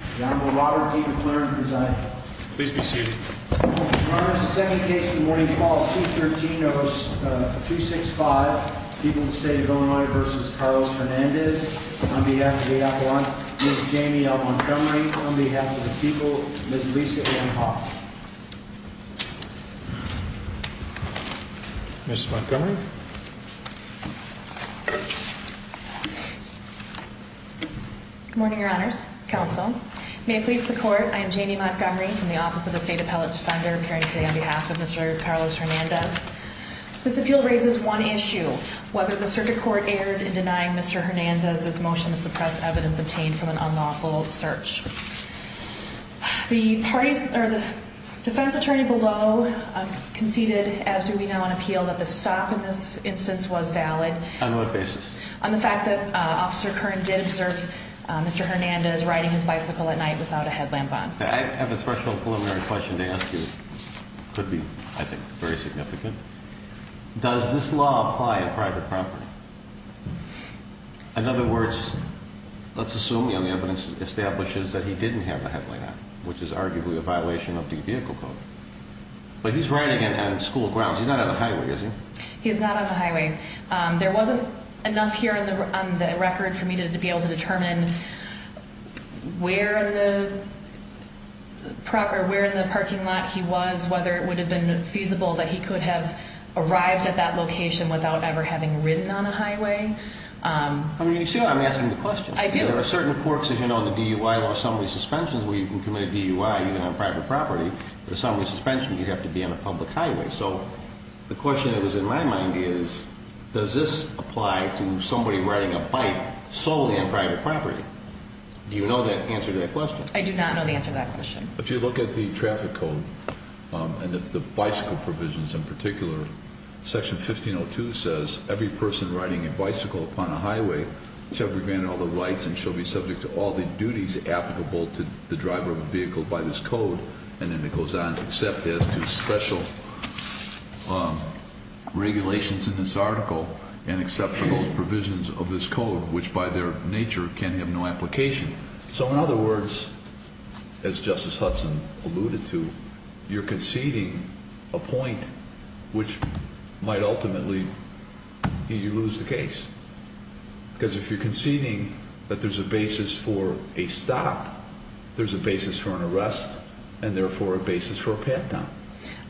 on behalf of the people, Ms. Lisa Anne Hawk. Ms. Montgomery. Good morning, your honors, counsel, may it please the court, I am Janie Montgomery from the Office of the State Appellate Defender appearing today on behalf of Mr. Carlos Hernandez. This appeal raises one issue, whether the circuit court erred in denying Mr. Hernandez's motion to suppress evidence obtained from an unlawful search. The defense attorney below conceded, as do we now on appeal, that the stop in this instance was valid. On what basis? On the fact that Officer Curran did observe Mr. Hernandez riding his bicycle at night without a headlamp on. I have a special preliminary question to ask you, could be, I think, very significant. Does this law apply on private property? In other words, let's assume the evidence establishes that he didn't have a headlamp on, which is arguably a violation of the vehicle code, but he's riding it on school grounds, he's not on the highway, is he? He's not on the highway. There wasn't enough here on the record for me to be able to determine where in the parking lot he was, whether it would have been feasible that he could have arrived at that location without ever having ridden on a highway. I mean, you see, I'm asking the question. I do. There are certain courts, as you know, in the DUI law, assembly suspensions, where you can commit a DUI even on private property, but assembly suspension, you have to be on a public highway. So the question that was in my mind is, does this apply to somebody riding a bike solely on private property? Do you know the answer to that question? I do not know the answer to that question. If you look at the traffic code, and at the bicycle provisions in particular, section 1502 says, every person riding a bicycle upon a highway shall be granted all the rights and shall be subject to all the duties applicable to the driver of a vehicle by this code, and then it goes on to accept as to special regulations in this article and accept for those provisions of this code, which by their nature can have no application. So in other words, as Justice Hudson alluded to, you're conceding a point which might ultimately lead you to lose the case, because if you're conceding that there's a basis for a stop, there's a basis for an arrest, and therefore a basis for a pat-down.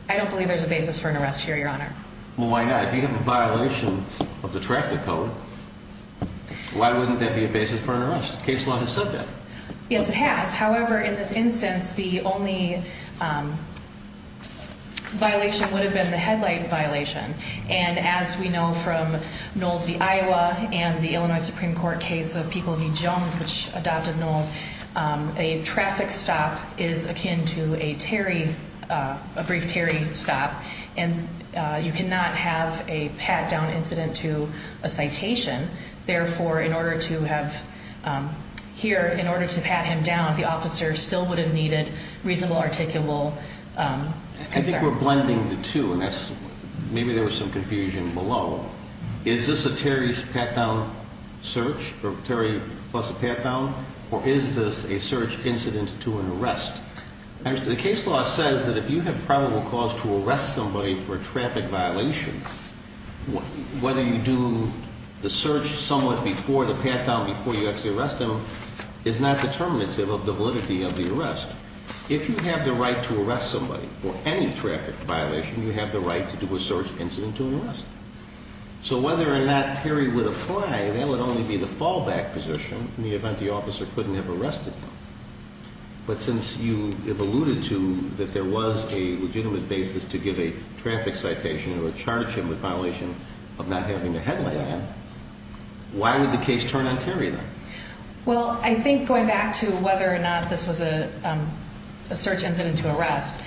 I don't believe there's a basis for an arrest here, Your Honor. Well, why not? If you have a violation of the traffic code, why wouldn't there be a basis for an arrest? The case law has said that. Yes, it has. However, in this instance, the only violation would have been the headlight violation, and as we know from Knowles v. Iowa and the Illinois Supreme Court case of People v. Jones, which adopted Knowles, a traffic stop is akin to a tarry, a brief tarry stop, and you cannot have a pat-down incident to a citation, therefore, in order to have, here, in order to pat him down, the officer still would have needed reasonable, articulable concern. I think we're blending the two, and that's, maybe there was some confusion below. Is this a tarry pat-down search, or tarry plus a pat-down, or is this a search incident to an arrest? The case law says that if you have probable cause to arrest somebody for a traffic violation, whether you do the search somewhat before the pat-down, before you actually arrest him, is not determinative of the validity of the arrest. If you have the right to arrest somebody for any traffic violation, you have the right to do a search incident to an arrest. So whether or not tarry would apply, that would only be the fallback position in the event the officer couldn't have arrested him. But since you have alluded to that there was a legitimate basis to give a traffic citation or charge him with violation of not having a headlight on him, why would the case turn on tarry, then? Well, I think, going back to whether or not this was a search incident to arrest,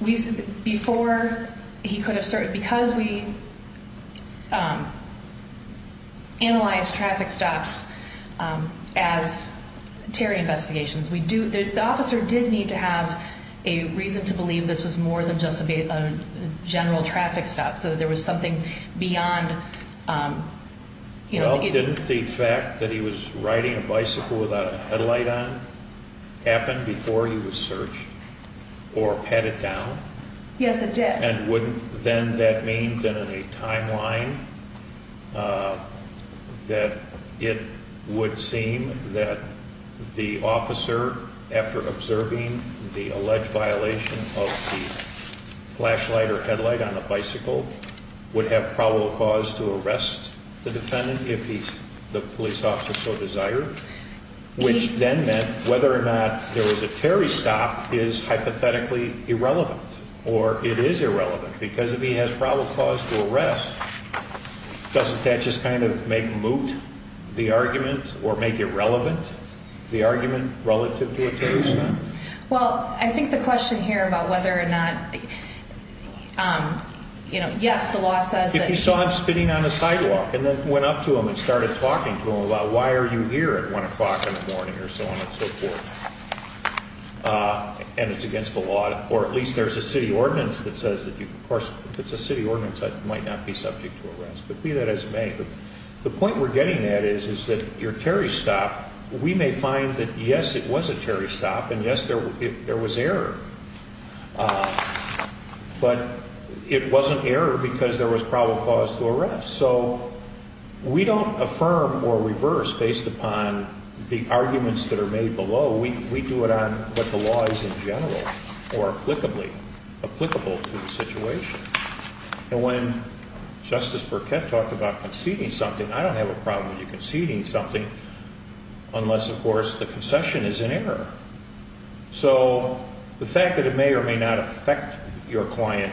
we, the officer did need to have a reason to believe this was more than just a general traffic stop, so that there was something beyond, you know, the fact that he was riding a bicycle without a headlight on happened before he was searched, or pat it down? Yes, it did. And wouldn't then that mean, then, in a timeline, that it would seem that the officer, after observing the alleged violation of the flashlight or headlight on a bicycle, would have probable cause to arrest the defendant if the police officer so desired? Which then meant whether or not there was a tarry stop is hypothetically irrelevant, or it is irrelevant, because if he has probable cause to arrest, doesn't that just kind of make moot the argument, or make irrelevant the argument relative to a tarry stop? Well, I think the question here about whether or not, you know, yes, the law says that... If you saw him spinning on the sidewalk and then went up to him and started talking to him about why are you here at 1 o'clock in the morning or so on and so forth, and it's a city ordinance that says that you, of course, if it's a city ordinance, I might not be subject to arrest. But be that as it may, the point we're getting at is that your tarry stop, we may find that yes, it was a tarry stop, and yes, there was error. But it wasn't error because there was probable cause to arrest. So we don't affirm or reverse based upon the arguments that are made below. We do it on what the law is in general or applicably, applicable to the situation. And when Justice Burkett talked about conceding something, I don't have a problem with you conceding something unless, of course, the concession is an error. So the fact that it may or may not affect your client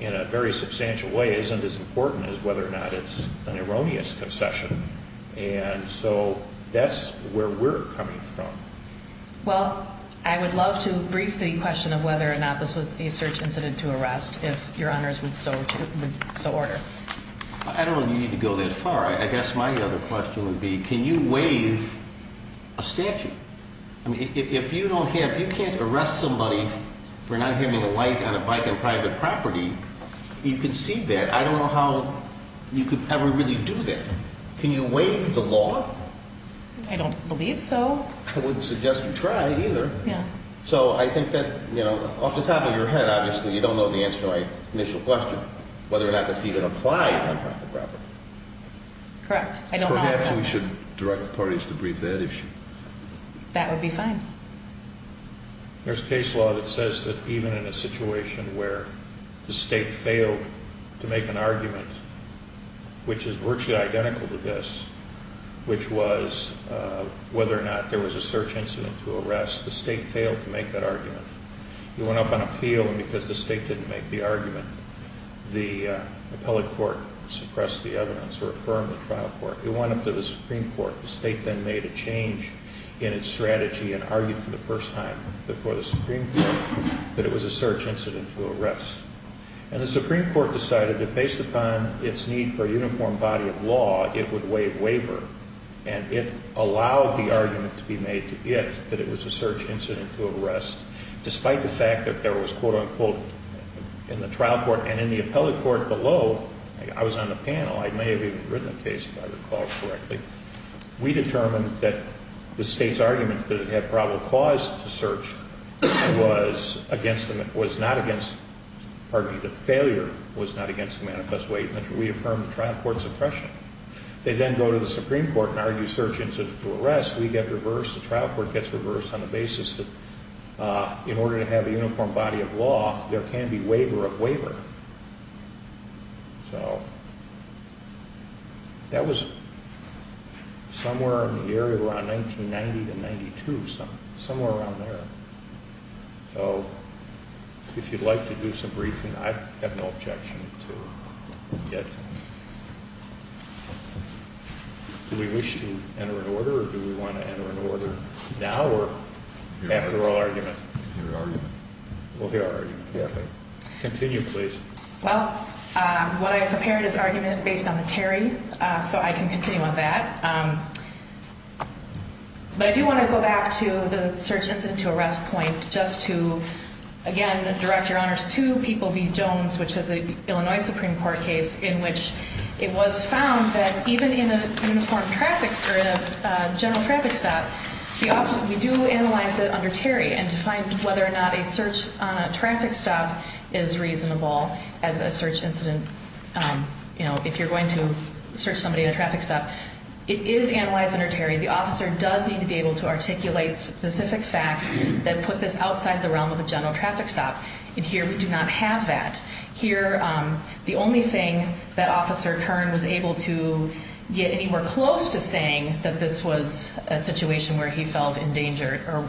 in a very substantial way isn't as important as whether or not it's an erroneous concession. And so that's where we're coming from. Well, I would love to brief the question of whether or not this was a search incident to arrest, if your honors would so order. I don't know that you need to go that far. I guess my other question would be, can you waive a statute? I mean, if you don't have, if you can't arrest somebody for not having a light on a bike on private property, you concede that. I don't know how you could ever really do that. Can you waive the law? I don't believe so. I wouldn't suggest you try either. So I think that, you know, off the top of your head, obviously, you don't know the answer to my initial question, whether or not this even applies on private property. Correct. Perhaps we should direct the parties to brief that issue. That would be fine. There's case law that says that even in a situation where the state failed to make an argument, which is virtually identical to this, which was whether or not there was a search incident to arrest, the state failed to make that argument. It went up on appeal, and because the state didn't make the argument, the appellate court suppressed the evidence or affirmed the trial court. It went up to the Supreme Court. The state then made a change in its strategy and argued for the first time before the Supreme Court that it was a search incident to arrest. And the Supreme Court decided that based upon its need for a uniform body of law, it would waive waiver, and it allowed the argument to be made to it that it was a search incident to arrest, despite the fact that there was, quote, unquote, in the trial court and in the appellate court below. I was on the panel. I may have even written the case, if I recall correctly. We determined that the state's argument that it had probable cause to search was against the, was not against, pardon me, the failure was not against the manifest way in which we affirmed the trial court's oppression. They then go to the Supreme Court and argue search incident to arrest. We get reversed. The trial court gets reversed on the basis that in order to have a uniform body of law, there can be waiver of waiver. So that was somewhere in the area around 1990 to 92, somewhere around there. So if you'd like to do some briefing, I have no objection to it yet. Do we wish to enter an order or do we want to enter an order now or after our argument? Your argument. We'll hear our argument. Continue, please. Well, what I have prepared is an argument based on the Terry, so I can continue on that. But I do want to go back to the search incident to arrest point just to, again, direct your honors to People v. Jones, which is an Illinois Supreme Court case in which it was found that even in a uniform traffic, or in a general traffic stop, we do analyze it under Terry and to find whether or not a search on a traffic stop is reasonable as a search incident. You know, if you're going to search somebody in a traffic stop, it is analyzed under Terry. The officer does need to be able to articulate specific facts that put this outside the realm of a general traffic stop, and here we do not have that. Here, the only thing that Officer Kern was able to get anywhere close to saying that this was a situation where he felt endangered or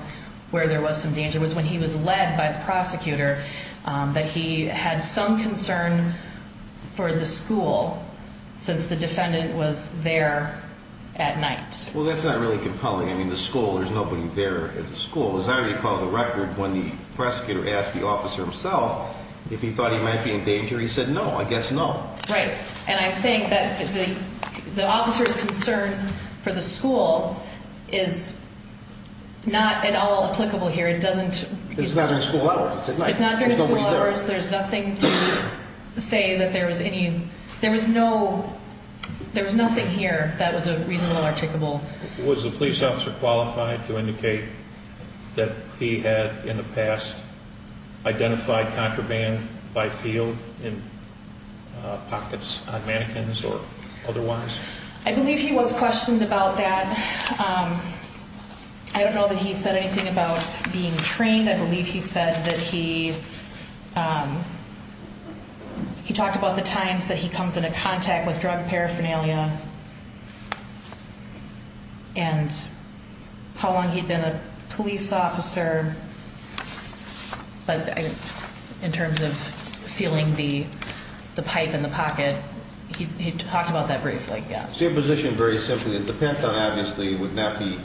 where there was some danger was when he was led by the prosecutor that he had some concern for the school since the defendant was there at night. Well, that's not really compelling. I mean, the school, there's nobody there at the school. As I recall the record, when the prosecutor asked the officer himself if he thought he might be in danger, he said, no, I guess no. Right, and I'm saying that the officer's concern for the school is not at all applicable here. It doesn't... It's not during school hours. It's not during school hours. There's nothing to say that there was any... There was no... There was nothing here that was a reasonable, articulable... Was the police officer qualified to indicate that he had, in the past, identified contraband by field in pockets on mannequins or otherwise? I believe he was questioned about that. I don't know that he said anything about being trained. I believe he said that he talked about the times that he comes into contact with drug paraphernalia and how long he'd been a police officer. But in terms of feeling the pipe in the pocket, he talked about that briefly, yes. Your position, very simply, is the Pentagon, obviously, would not be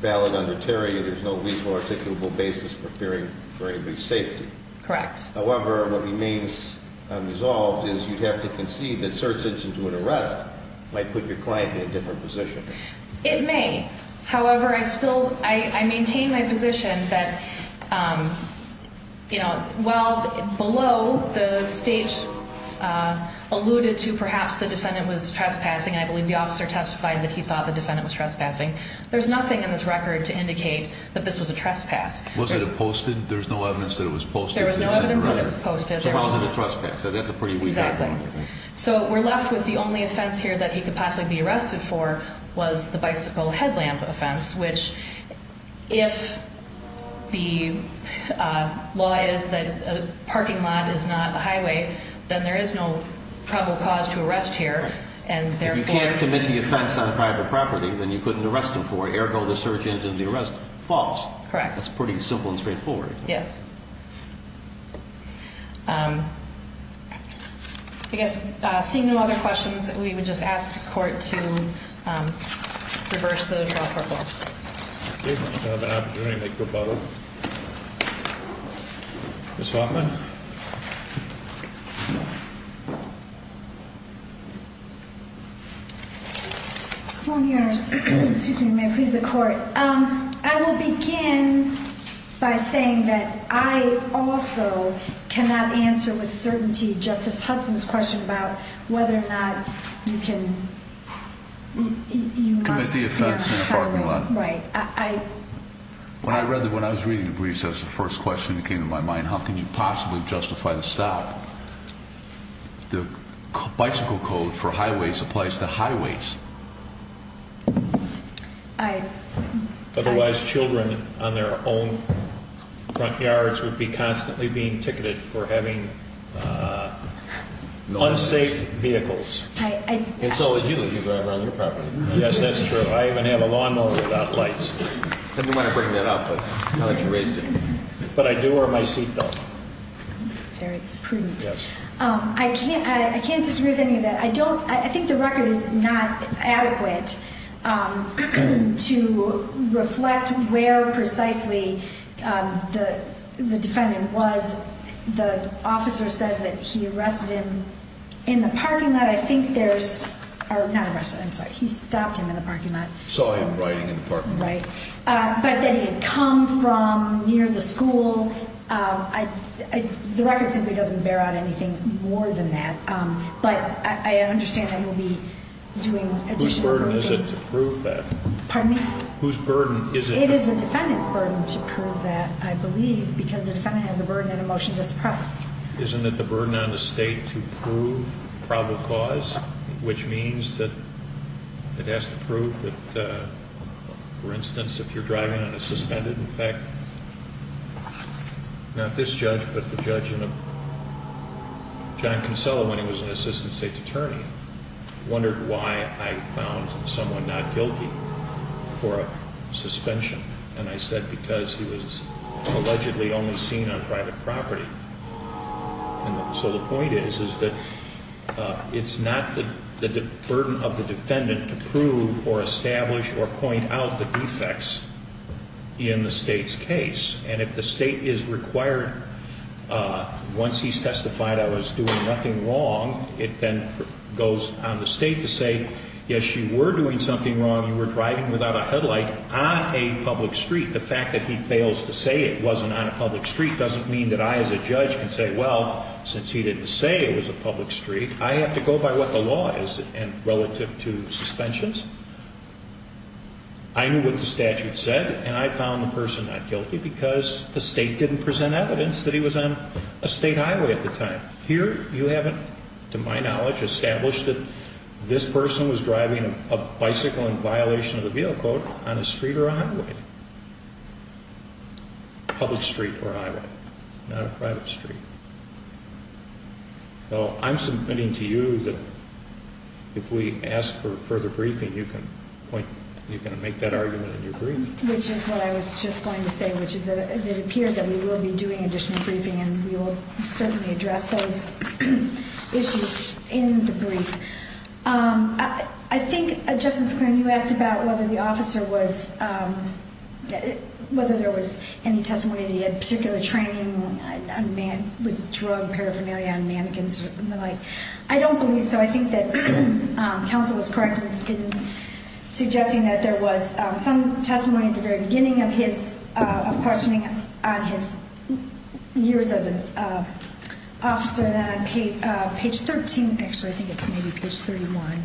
valid under Terry. There's no reasonable, articulable basis for fearing for anybody's safety. Correct. However, what remains unresolved is you'd have to concede that search engine to an arrest might put your client in a different position. It may. However, I still maintain my position that, you know, while below the stage alluded to perhaps the defendant was trespassing, and I believe the officer testified that he thought the defendant was trespassing, there's nothing in this record to indicate that this was a trespass. Was it posted? There was no evidence that it was posted? There was no evidence that it was posted. So it wasn't a trespass. So that's a pretty weak point. Exactly. So we're left with the only offense here that he could possibly be arrested for was the bicycle headlamp offense, which if the law is that a parking lot is not a highway, then there is no probable cause to arrest here. If you can't commit the offense on private property, then you couldn't arrest him for it. Ergo, the search engine and the arrest, false. Correct. That's pretty simple and straightforward. Yes. I guess seeing no other questions, we would just ask this court to reverse the 12-4 clause. If you have an opportunity to make a rebuttal. Ms. Hoffman. Excuse me. May it please the court. I will begin by saying that I also cannot answer with certainty Justice Hudson's question about whether or not you can, you must be a highway. Commit the offense in a parking lot. Right. When I was reading the briefs, that was the first question that came to my mind. How can you possibly justify the stop? The bicycle code for highways applies to highways. Otherwise, children on their own front yards would be constantly being ticketed for having unsafe vehicles. And so would you if you drive around your property. Yes, that's true. I even have a lawnmower without lights. I didn't want to bring that up, but now that you've raised it. But I do wear my seatbelt. That's very prudent. I can't disagree with any of that. I think the record is not adequate to reflect where precisely the defendant was. The officer says that he arrested him in the parking lot. I think there's, or not arrested, I'm sorry, he stopped him in the parking lot. Saw him riding in the parking lot. Right. But that he had come from near the school. The record simply doesn't bear out anything more than that. But I understand that he'll be doing additional work. Whose burden is it to prove that? Pardon me? Whose burden is it? It is the defendant's burden to prove that, I believe. Because the defendant has the burden that a motion does press. Isn't it the burden on the state to prove probable cause? Which means that it has to prove that, for instance, if you're driving and it's suspended. In fact, not this judge, but the judge in a, John Kinsella, when he was an assistant state attorney, wondered why I found someone not guilty for a suspension. And I said because he was allegedly only seen on private property. So the point is, is that it's not the burden of the defendant to prove or establish or point out the defects in the state's case. And if the state is required, once he's testified I was doing nothing wrong, it then goes on the state to say, yes, you were doing something wrong. You were driving without a headlight on a public street. The fact that he fails to say it wasn't on a public street doesn't mean that I as a judge can say, well, since he didn't say it was a public street, I have to go by what the law is relative to suspensions. I knew what the statute said and I found the person not guilty because the state didn't present evidence that he was on a state highway at the time. Here you haven't, to my knowledge, established that this person was driving a bicycle in violation of the vehicle code on a street or a highway. Public street or highway, not a private street. So I'm submitting to you that if we ask for further briefing, you can point, you can make that argument in your briefing. Which is what I was just going to say, which is that it appears that we will be doing additional briefing and we will certainly address those issues in the brief. I think, Justice McClain, you asked about whether the officer was, whether there was any testimony that he had particular training with drug paraphernalia and mannequins and the like. I don't believe so. I think that counsel was correct in suggesting that there was some testimony at the very beginning of his questioning on his years as an officer. Then on page 13, actually I think it's maybe page 31.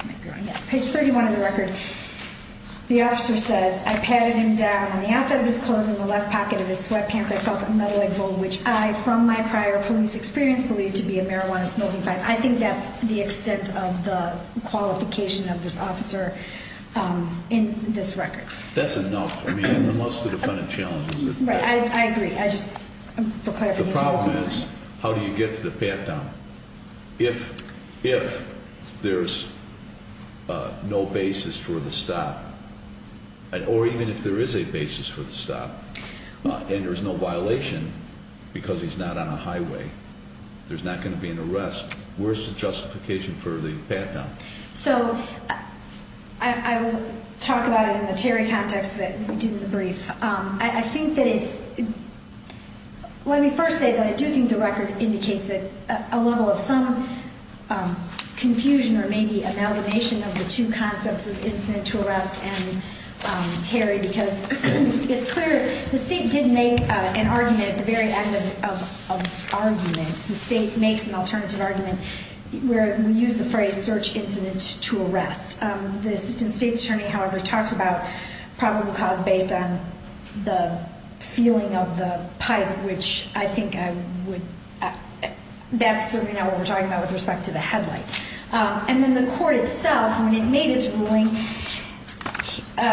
I might be wrong. Yes, page 31 of the record, the officer says, I patted him down and the outside of his clothes and the left pocket of his sweatpants, I felt a meddling bull, which I, from my prior police experience, believe to be a marijuana smoking pipe. I think that's the extent of the qualification of this officer in this record. That's enough. I mean, unless the defendant challenges it. Right. I agree. The problem is, how do you get to the pat-down? If there's no basis for the stop, or even if there is a basis for the stop, and there's no violation because he's not on a highway, there's not going to be an arrest, where's the justification for the pat-down? So I will talk about it in the Terry context that we did in the brief. I think that it's – let me first say that I do think the record indicates a level of some confusion or maybe amalgamation of the two concepts of incident to arrest and Terry, because it's clear the State did make an argument at the very end of argument. The State makes an alternative argument where we use the phrase search incident to arrest. The Assistant State Attorney, however, talks about probable cause based on the feeling of the pipe, which I think I would – that's certainly not what we're talking about with respect to the headlight. And then the court itself, when it made its ruling,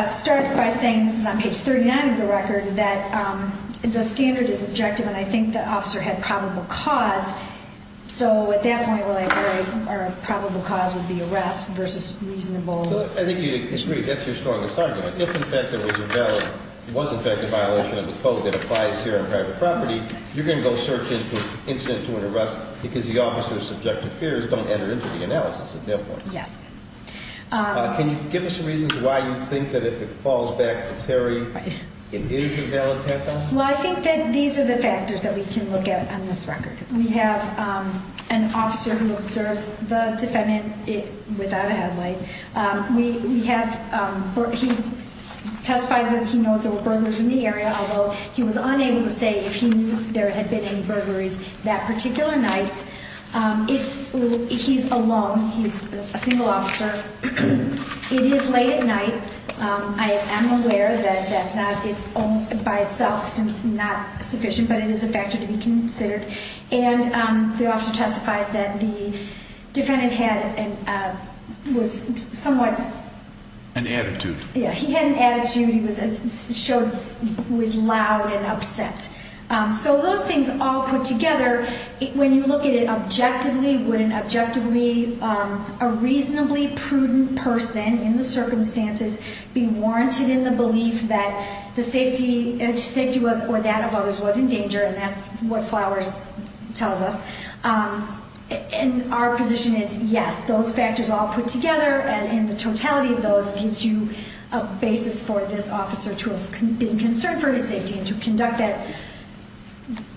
starts by saying – this is on page 39 of the record – that the standard is objective, and I think the officer had probable cause. So at that point, our probable cause would be arrest versus reasonable – So I think you agree that's your strongest argument. If, in fact, there was invalid – was, in fact, a violation of the code that applies here on private property, you're going to go search incident to an arrest because the officer's subjective fears don't enter into the analysis at that point. Yes. Can you give us some reasons why you think that if it falls back to Terry, it is a valid patent? Well, I think that these are the factors that we can look at on this record. We have an officer who observes the defendant without a headlight. We have – he testifies that he knows there were burglars in the area, although he was unable to say if he knew there had been any burglaries that particular night. It's – he's alone. He's a single officer. It is late at night. I am aware that that's not – it's by itself not sufficient, but it is a factor to be considered. And the officer testifies that the defendant had a – was somewhat – An attitude. Yeah, he had an attitude. He was – showed – was loud and upset. So those things all put together, when you look at it objectively, would an objectively – a reasonably prudent person in the circumstances be warranted in the belief that the safety – safety was – or that of others was in danger, and that's what Flowers tells us. And our position is yes, those factors all put together, and the totality of those gives you a basis for this officer to have been concerned for his safety and to conduct that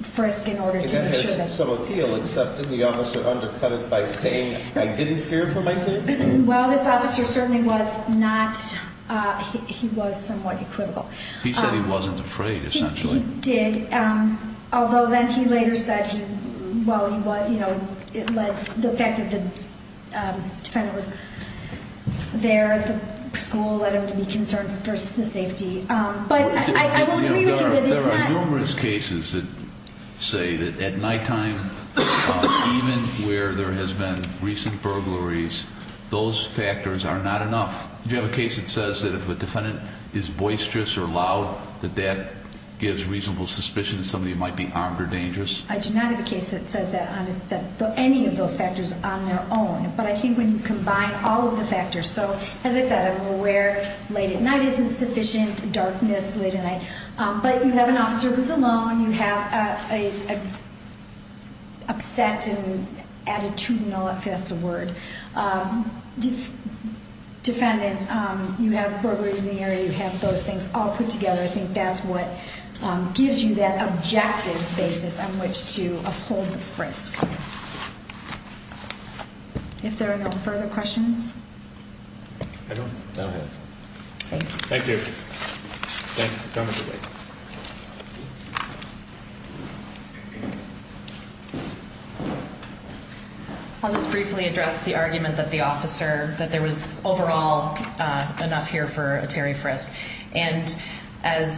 frisk in order to make sure that – And that has some appeal, except that the officer undercut it by saying, I didn't fear for my safety? Well, this officer certainly was not – he was somewhat equivocal. He said he wasn't afraid, essentially. He did, although then he later said he – well, he was – you know, it led – the fact that the defendant was there at the school led him to be concerned for the safety. But I will agree with you that it's not – There are numerous cases that say that at nighttime, even where there has been recent burglaries, those factors are not enough. Do you have a case that says that if a defendant is boisterous or loud, that that gives reasonable suspicion that somebody might be armed or dangerous? I do not have a case that says that on – any of those factors on their own. But I think when you combine all of the factors – so, as I said, I'm aware late at night isn't sufficient. Darkness late at night. But you have an officer who's alone. You have an upset and attitudinal – if that's a word – defendant. You have burglaries in the area. You have those things all put together. I think that's what gives you that objective basis on which to uphold the frisk. If there are no further questions. I don't know. Thank you. Thank you. Thank you for coming today. I'll just briefly address the argument that the officer – that there was overall enough here for a Terry frisk. And as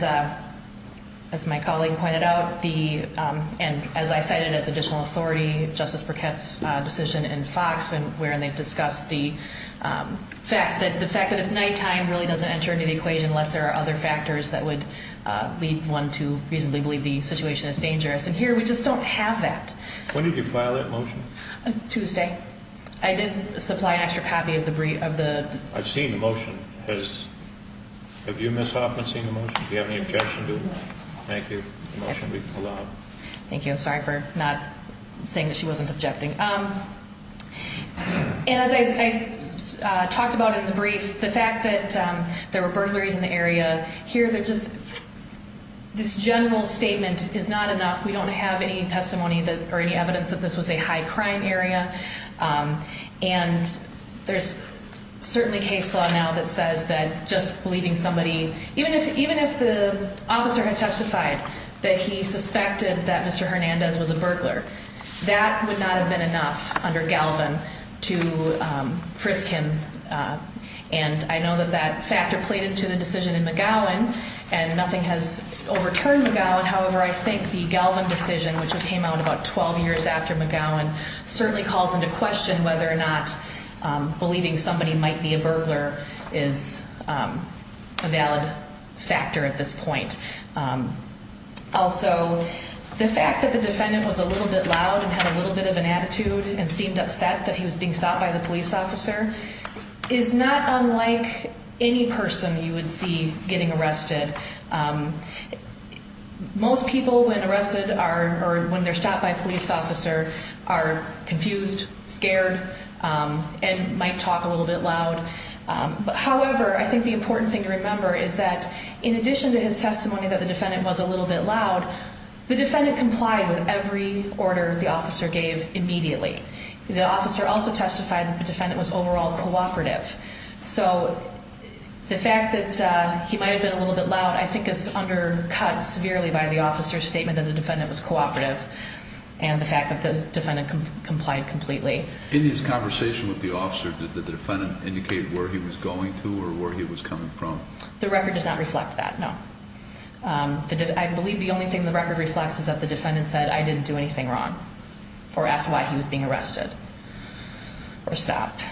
my colleague pointed out, and as I cited as additional authority, Justice Burkett's decision in Fox, wherein they've discussed the fact that it's nighttime really doesn't enter into the equation unless there are other factors that would lead one to reasonably believe the situation is dangerous. And here we just don't have that. When did you file that motion? Tuesday. I did supply an extra copy of the – I've seen the motion. Has – have you, Ms. Hoffman, seen the motion? Do you have any objection to it? No. Thank you. The motion will be pulled out. Thank you. I'm sorry for not saying that she wasn't objecting. And as I talked about in the brief, the fact that there were burglaries in the area, here they're just – this general statement is not enough. We don't have any testimony that – or any evidence that this was a high-crime area. And there's certainly case law now that says that just leaving somebody – even if the officer had testified that he suspected that Mr. Hernandez was a burglar, that would not have been enough under Galvin to frisk him. And I know that that factor played into the decision in McGowan, and nothing has overturned McGowan. However, I think the Galvin decision, which came out about 12 years after McGowan, certainly calls into question whether or not believing somebody might be a burglar is a valid factor at this point. Also, the fact that the defendant was a little bit loud and had a little bit of an attitude and seemed upset that he was being stopped by the police officer is not unlike any person you would see getting arrested. Most people, when arrested or when they're stopped by a police officer, are confused, scared, and might talk a little bit loud. However, I think the important thing to remember is that in addition to his testimony that the defendant was a little bit loud, the defendant complied with every order the officer gave immediately. The officer also testified that the defendant was overall cooperative. So the fact that he might have been a little bit loud I think is undercut severely by the officer's statement that the defendant was cooperative and the fact that the defendant complied completely. In his conversation with the officer, did the defendant indicate where he was going to or where he was coming from? The record does not reflect that, no. I believe the only thing the record reflects is that the defendant said, I didn't do anything wrong or asked why he was being arrested or stopped.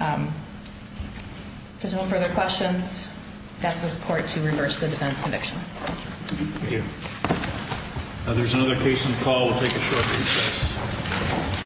If there's no further questions, I ask the court to reverse the defense conviction. Thank you. There's another case on the call. We'll take a short recess.